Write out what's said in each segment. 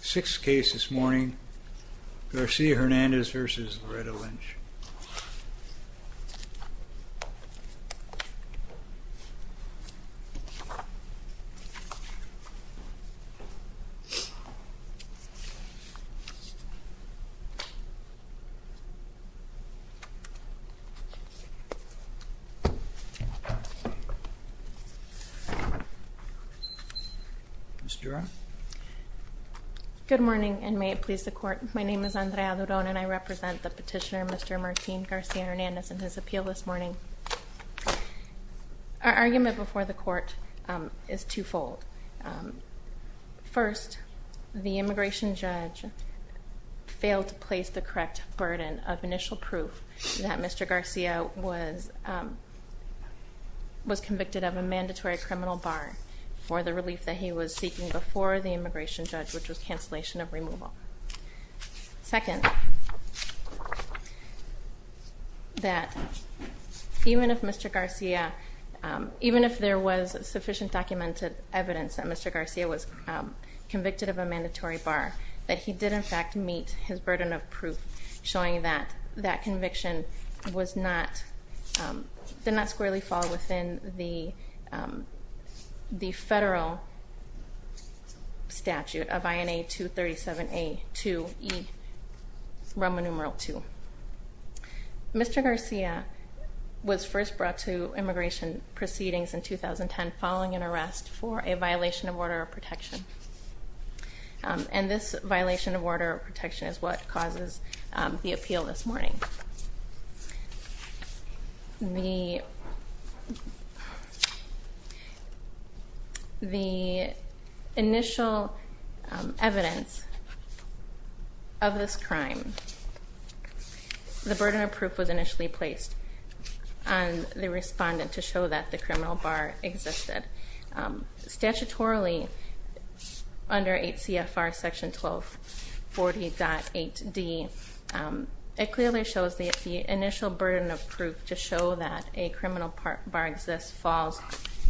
Sixth case this morning Garcia-Hernandez v. Loretta Lynch Good morning and may it please the court, my name is Andrea Duron and I represent the Martine Garcia-Hernandez and his appeal this morning. Our argument before the court is twofold. First, the immigration judge failed to place the correct burden of initial proof that Mr. Garcia was was convicted of a mandatory criminal bar for the relief that he was seeking before the immigration judge which was cancellation of removal. Second, that even if Mr. Garcia even if there was sufficient documented evidence that Mr. Garcia was convicted of a mandatory bar that he did in fact meet his burden of proof showing that that violation of order of protection and this violation of order of protection is what causes the appeal this morning. The initial evidence of this crime, the burden of proof was initially placed on the respondent to show that the criminal bar existed. Statutorily under 8 CFR section 1240.8d it clearly shows the initial burden of proof to show that a criminal part bar exists falls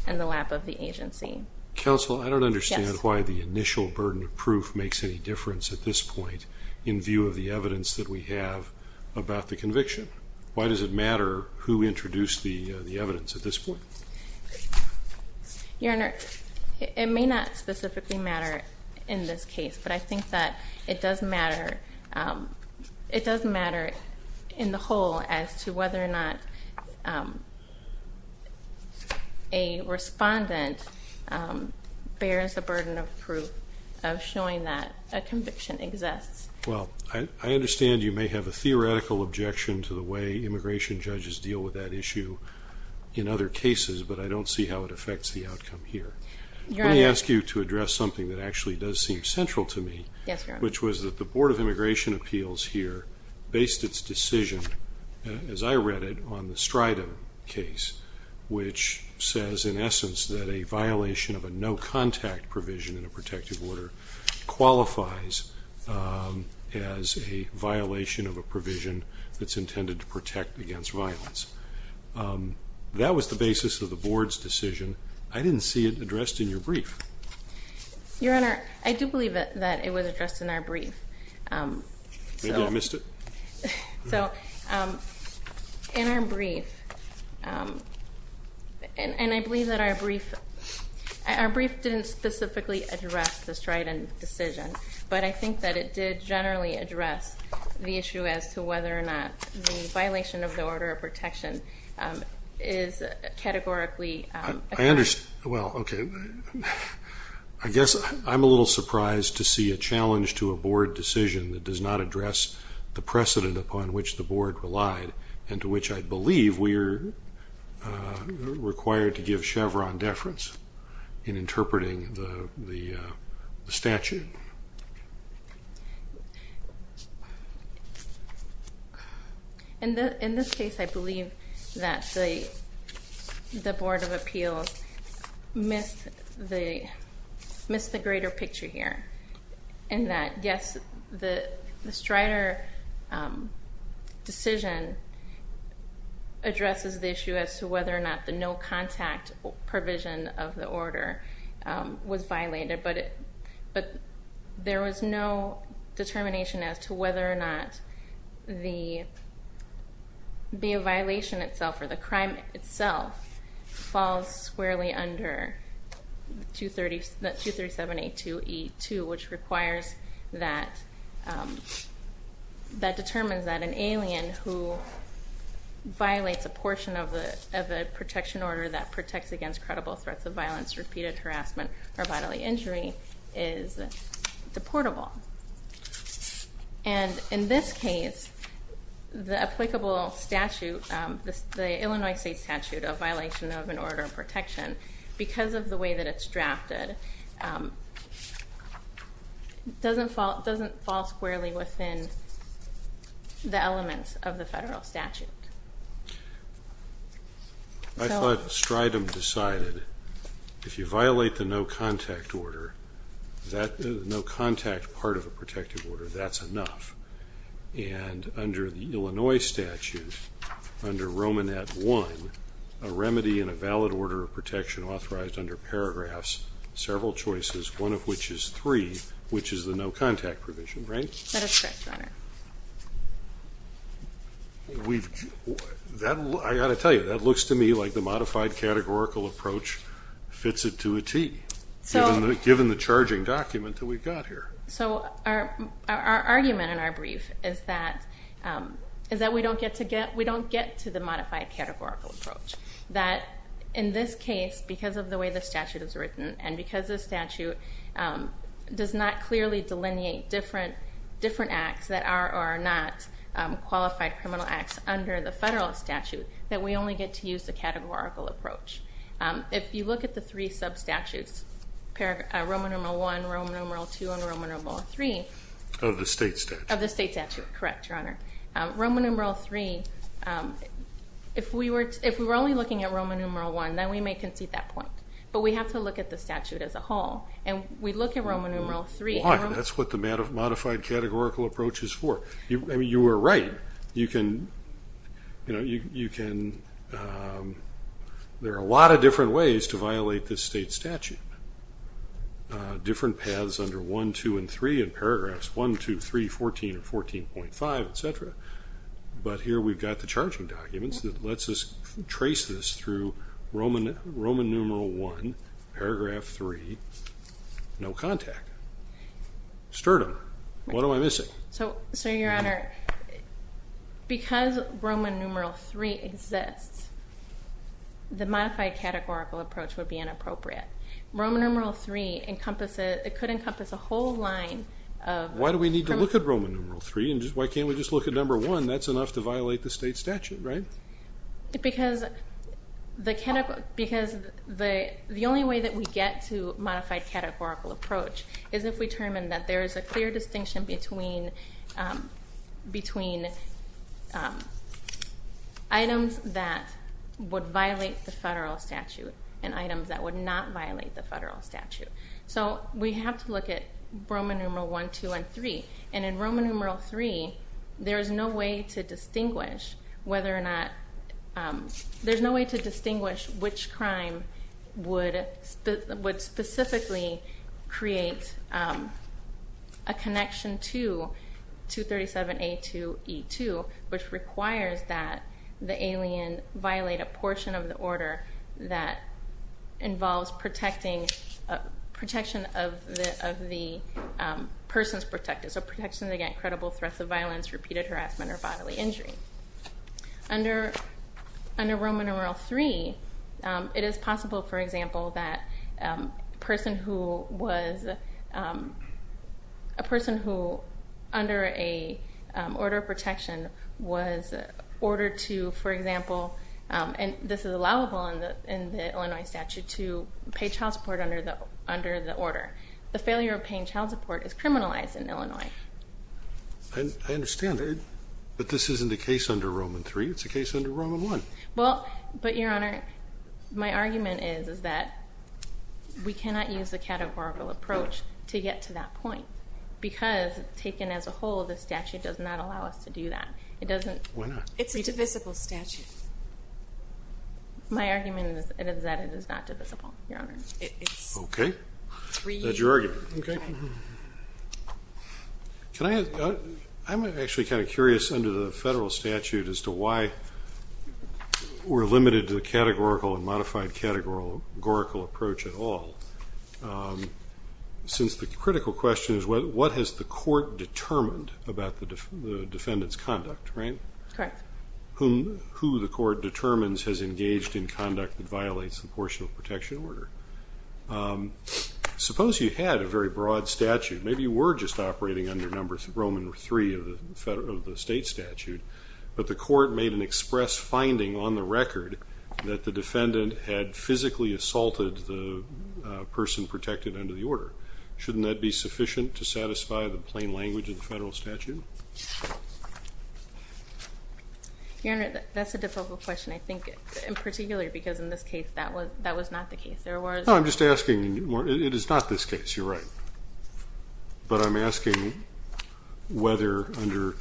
in the lap of the agency. Counsel I don't understand why the initial burden of proof makes any difference at this point in view of the evidence that we have about the conviction. Why does it matter who introduced the the evidence at this point? Your Honor, it may not specifically matter in this case but I think that it does matter it does matter in the whole as to whether or not a respondent bears the burden of proof of showing that a conviction exists. Well I understand you may have a theoretical objection to the way immigration judges deal with that issue in other cases but I don't see how it affects the outcome here. Let me ask you to address something that actually does seem central to me which was that the Board of Immigration Appeals here based its decision as I read it on the Strida case which says in essence that a violation of a no contact provision in a protective order qualifies as a violation of a provision that's intended to protect against violence. That was the basis of the board's decision. I didn't see it addressed in your brief. Your Honor, I do believe it that it was addressed in our brief. Maybe I missed it? So in our brief and I believe that our brief our brief didn't specifically address the Strida decision but I think that it did generally address the issue as to whether or not the violation of the order of protection is categorically. I understand well okay I guess I'm a little surprised to see a challenge to a board decision that does not address the precedent upon which the board relied and to which I believe we're required to and in this case I believe that the Board of Appeals missed the greater picture here and that yes the Strida decision addresses the issue as to whether or not the no contact provision of the order was violated but there was no determination as to whether or not the be a violation itself or the crime itself falls squarely under 237.8282 which requires that that determines that an alien who violates a portion of the of a protection order that protects against credible threats of violence repeated harassment or bodily injury is deportable and in this case the applicable statute the Illinois state statute of violation of an order of protection because of the way that it's drafted doesn't fall doesn't fall squarely within the elements of the federal statute. I thought Stridum decided if you violate the no contact order that no contact part of a protective order that's enough and under the Illinois statute under Roman at one a remedy in a valid order of protection authorized under paragraphs several choices one of which is three which is the no contact provision right? That is correct, your honor. I gotta tell you that looks to me like the modified categorical approach fits it to a tee given the charging document that we've got here. So our argument in our brief is that is that we don't get to get we don't get to the modified categorical approach that in this case because of the way the statute is written and because the statute does not clearly delineate different acts that are or are not qualified criminal acts under the federal statute that we only get to use the categorical approach. If you look at the three sub statutes Roman numeral one, Roman numeral two, and Roman numeral three. Of the state statute. Of the state statute, correct, your honor. Roman numeral three if we were if we were only looking at Roman numeral one then we may concede that point but we have to look at the statute as a whole and we look at Roman numeral three. Why? That's what the modified categorical approach is for. I mean you were right you can you know you can there are a lot of different ways to violate this state statute. Different paths under one, two, and three in paragraphs one, two, three, fourteen, or fourteen point five, etc. But here we've got the charging documents that lets us trace this through Roman Roman numeral one, paragraph three, no contact. Sturdum. What am I missing? So, so your honor because Roman numeral three exists the modified categorical approach would be inappropriate. Roman numeral three encompasses it could encompass a whole line of... Why do we need to look at Roman numeral three and just why can't we just look at number one that's enough to violate the state statute, right? Because the only way that we get to modified categorical approach is if we determine that there is a clear distinction between between items that would violate the federal statute and items that would not violate the federal statute. So we have to look at Roman numeral one, two, and three and in Roman there's no way to distinguish whether or not, there's no way to distinguish which crime would specifically create a connection to 237A2E2 which requires that the alien violate a portion of the order that involves protecting, protection of the person's protected. So protection against credible threats of violence, repeated harassment, or bodily injury. Under Roman numeral three it is possible for example that a person who was a person who under a order of protection was ordered to, for example, and this is allowable in the Illinois statute to pay child support under the order. The failure of paying child support is criminalized in Illinois. I understand but this isn't a case under Roman three, it's a case under Roman one. Well but Your Honor, my argument is that we cannot use the categorical approach to get to that point because taken as a whole the statute does not allow us to do that. It doesn't. Why not? It's a divisible statute. My argument is that it is not divisible. Okay, that's your argument. I'm actually kind of curious under the federal statute as to why we're limited to the categorical and modified categorical approach at all. Since the critical question is what has the court determined about the defendant's conduct, right? Correct. Who the court determines has engaged in conduct that violates the portion of protection under the order. Suppose you had a very broad statute, maybe you were just operating under number Roman three of the state statute, but the court made an express finding on the record that the defendant had physically assaulted the person protected under the order. Shouldn't that be sufficient to satisfy the plain language of the federal statute? Your Honor, that's a difficult question. I was not the case. I'm just asking, it is not this case, you're right, but I'm asking whether under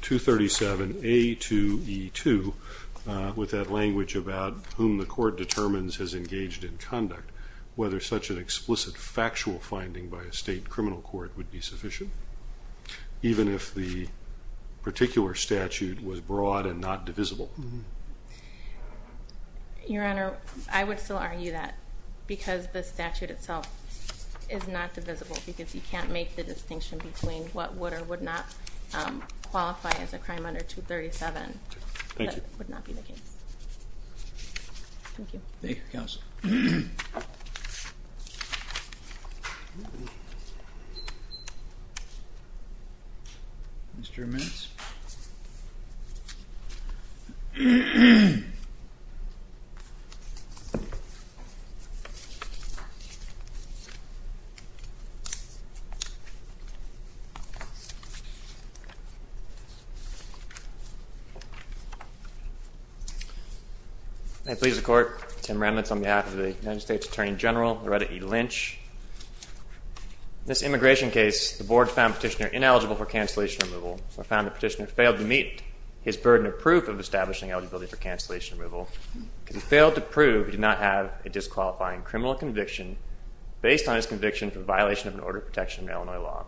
237 A2E2 with that language about whom the court determines has engaged in conduct, whether such an explicit factual finding by a state criminal court would be sufficient even if the particular I would still argue that, because the statute itself is not divisible, because you can't make the distinction between what would or would not qualify as a crime under 237. Thank you. That would not be the case. Thank you. Thank you, counsel. Mr. Mince. May it please the court, Tim Remitz on behalf of the United States Attorney General Loretta E. Lynch. In this immigration case, the board found the petitioner ineligible for cancellation removal. I found the petitioner failed to meet his burden of proof of establishing eligibility for cancellation removal. He failed to prove he did not have a disqualifying criminal conviction based on his conviction for violation of an order of protection in Illinois law,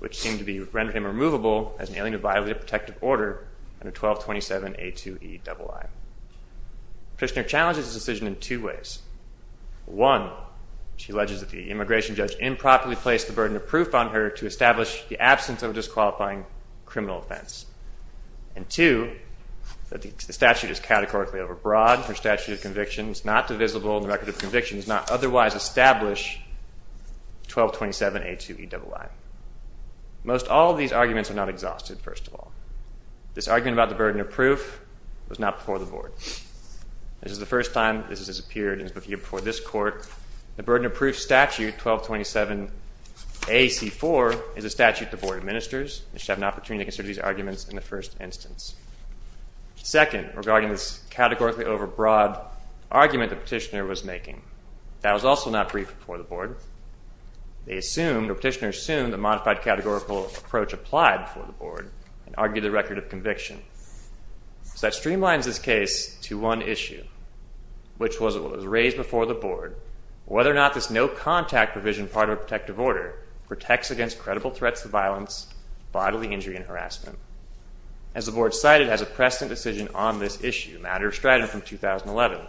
which seemed to be rendered him removable as an alien to violate a protective order under 1227 A2EII. The petitioner challenges this decision in two ways. One, she alleges that the immigration judge improperly placed the burden of proof on her to establish the absence of a disqualifying criminal offense. And two, that the statute is categorically overbroad for statute of conviction. It's not divisible. The record of conviction is not otherwise established. 1227 A2EII. Most all these arguments are not exhausted, first of all. This argument about the burden of proof was not before the board. This is the first time this has appeared before this court. The burden of proof statute 1227 AC4 is a statute the board administers. You should have an opportunity to consider these arguments in the first instance. Second, regarding this categorically overbroad argument the petitioner was making, that was also not briefed before the board. The petitioner assumed the modified categorical approach applied before the board and argued the record of conviction. So that streamlines this case to one issue, which was what was raised before the board, whether or not this no-contact provision part of a protective order protects against credible threats to violence, bodily injury, and harassment. As the board cited, it has a precedent decision on this issue, a matter of strident from 2011.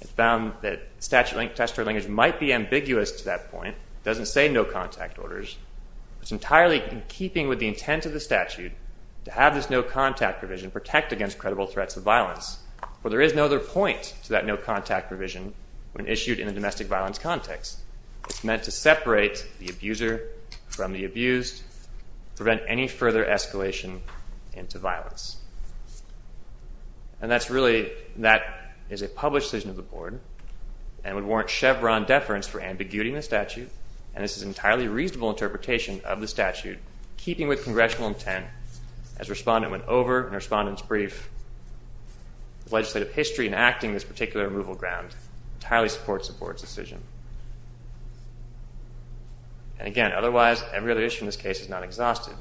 It found that statute test for language might be ambiguous to that point. It doesn't say no contact orders. It's entirely in keeping with the intent of the statute to have this no-contact provision protect against credible threats of violence, for there is no other point to that no-contact provision when issued in a domestic violence context. It's meant to separate the interpretation into violence. And that's really, that is a published decision of the board and would warrant Chevron deference for ambiguity in the statute. And this is an entirely reasonable interpretation of the statute, keeping with congressional intent, as respondent went over in a respondent's brief. Legislative history in acting this particular removal ground entirely supports the board's decision. And again, otherwise, every other issue in this case is not exhausted.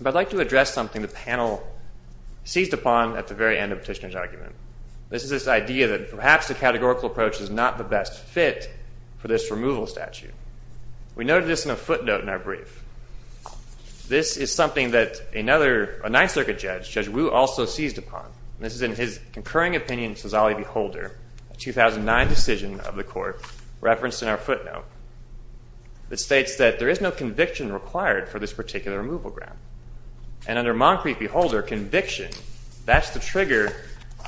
But I'd like to address something the panel seized upon at the very end of Petitioner's argument. This is this idea that perhaps the categorical approach is not the best fit for this removal statute. We noted this in a footnote in our brief. This is something that another, a Ninth Circuit judge, Judge Wu, also seized upon. This is in his concurring opinion, Sozali v. Holder, a 2009 decision of the court, referenced in our footnote. It states that there is no conviction required for this particular removal ground. And under Moncrief v. Holder, conviction, that's the trigger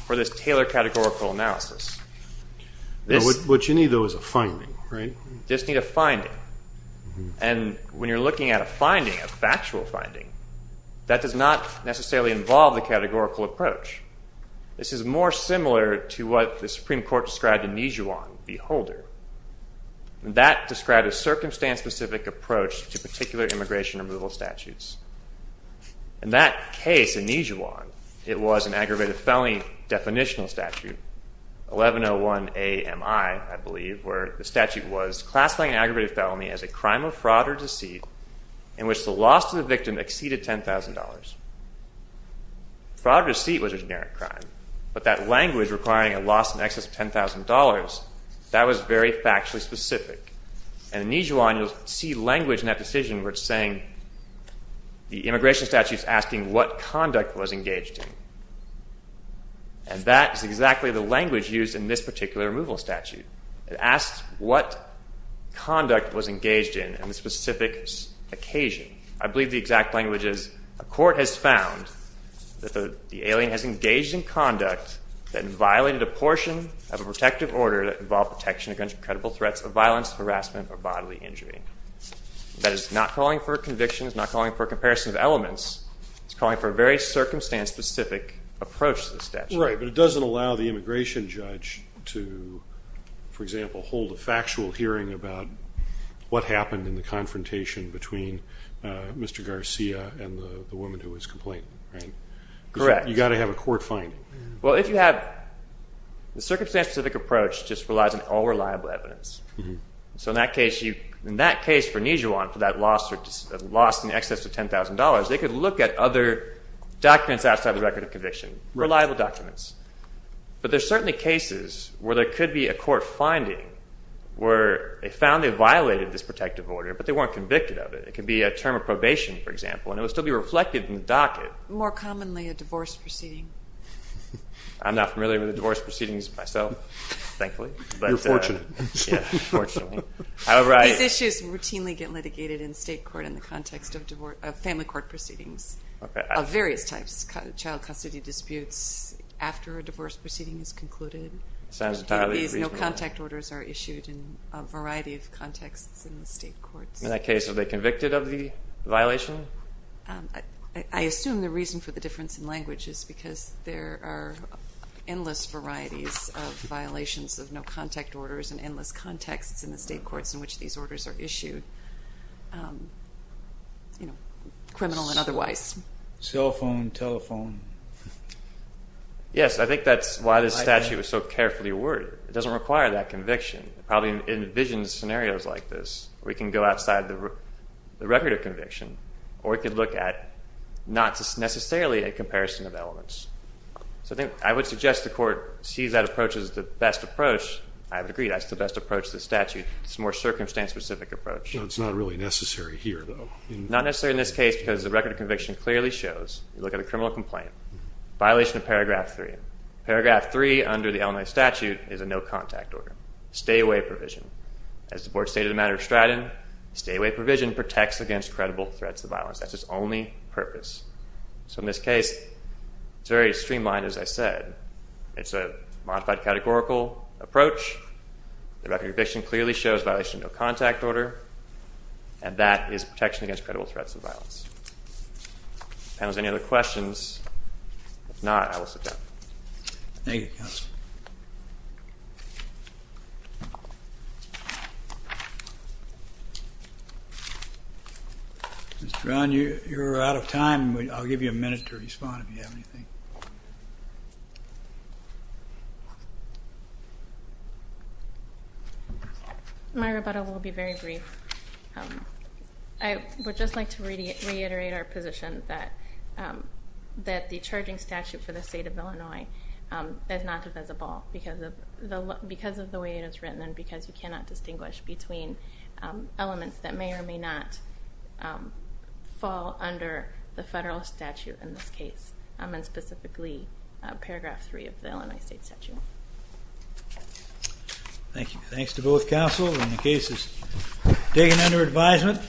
for this Taylor categorical analysis. What you need, though, is a finding, right? Just need a finding. And when you're looking at a finding, a factual finding, that does not necessarily involve the categorical approach. This is more similar to what the Supreme Court described in Nijuan v. Holder. That described a circumstance-specific approach to particular immigration removal statutes. In that case, in Nijuan, it was an aggravated felony definitional statute, 1101 A.M.I., I believe, where the statute was classifying an aggravated felony as a crime of fraud or deceit in which the loss to the victim exceeded $10,000. Fraud or deceit was a generic crime, but that language requiring a loss in excess of $10,000, that was very factually specific. And in Nijuan, you'll see language in that decision where it's saying the immigration statute's asking what conduct was engaged in. And that is exactly the language used in this particular removal statute. It asks what conduct was engaged in on the specific occasion. I believe the exact language is, a court has found that the alien has engaged in conduct that violated a portion of a protective order that involved protection against credible threats of violence, harassment, or bodily injury. That is not calling for convictions, not calling for comparison of elements. It's calling for a very circumstance-specific approach to the statute. Right. But it doesn't allow the immigration judge to, for example, hold a factual hearing about what happened in the confrontation between Mr. Garcia and the woman who was complaining, right? Correct. You've got to have a court finding. Well, if you have the circumstance-specific approach just relies on all reliable evidence. So in that case, for Nijuan, for that loss in excess of $10,000, they could look at other documents outside the record of conviction, reliable documents. But there's certainly cases where there could be a court finding where they found they violated this protective order, but they weren't convicted of it. It could be a term of probation, for example, and it would still be reflected in the docket. More commonly, a divorce proceeding. I'm not familiar with the divorce proceedings myself, thankfully. You're fortunate. Yeah, fortunately. However, I... These issues routinely get litigated in state court in the context of family court proceedings of various types. Child custody disputes after a divorce proceeding is concluded. Sounds entirely reasonable. These no-contact orders are issued in a variety of contexts in the state courts. In that case, are they convicted of the violation? I assume the reason for the difference in language is because there are no-contact orders in endless contexts in the state courts in which these orders are issued, criminal and otherwise. Cell phone, telephone. Yes, I think that's why this statute was so carefully awarded. It doesn't require that conviction. It probably envisions scenarios like this. We can go outside the record of conviction, or we could look at not necessarily a comparison of elements. So I think I would suggest the court sees that approach as the best approach. I would agree that's the best approach to the statute. It's a more circumstance-specific approach. It's not really necessary here, though. Not necessary in this case because the record of conviction clearly shows, you look at a criminal complaint, violation of paragraph 3. Paragraph 3 under the Illinois statute is a no-contact order. Stay-away provision. As the board stated in the matter of Stratton, stay-away provision protects against credible threats of violence. That's its only purpose. So in this case, it's very streamlined, as I said. It's a modified categorical approach. The record of conviction clearly shows violation of no-contact order, and that is protection against credible threats of violence. Panels, any other questions? If not, I will sit down. Thank you, counsel. Mr. Brown, you're out of time. I'll give you a minute to respond if you have anything. My rebuttal will be very brief. I would just like to reiterate our position that the charging statute for the state of Illinois is not divisible because of the way it is written and because you cannot distinguish between elements that may or may not fall under the federal statute in this case, and specifically paragraph 3 of the Illinois state statute. Thank you. Thanks to both counsel when the case is taken under advisement.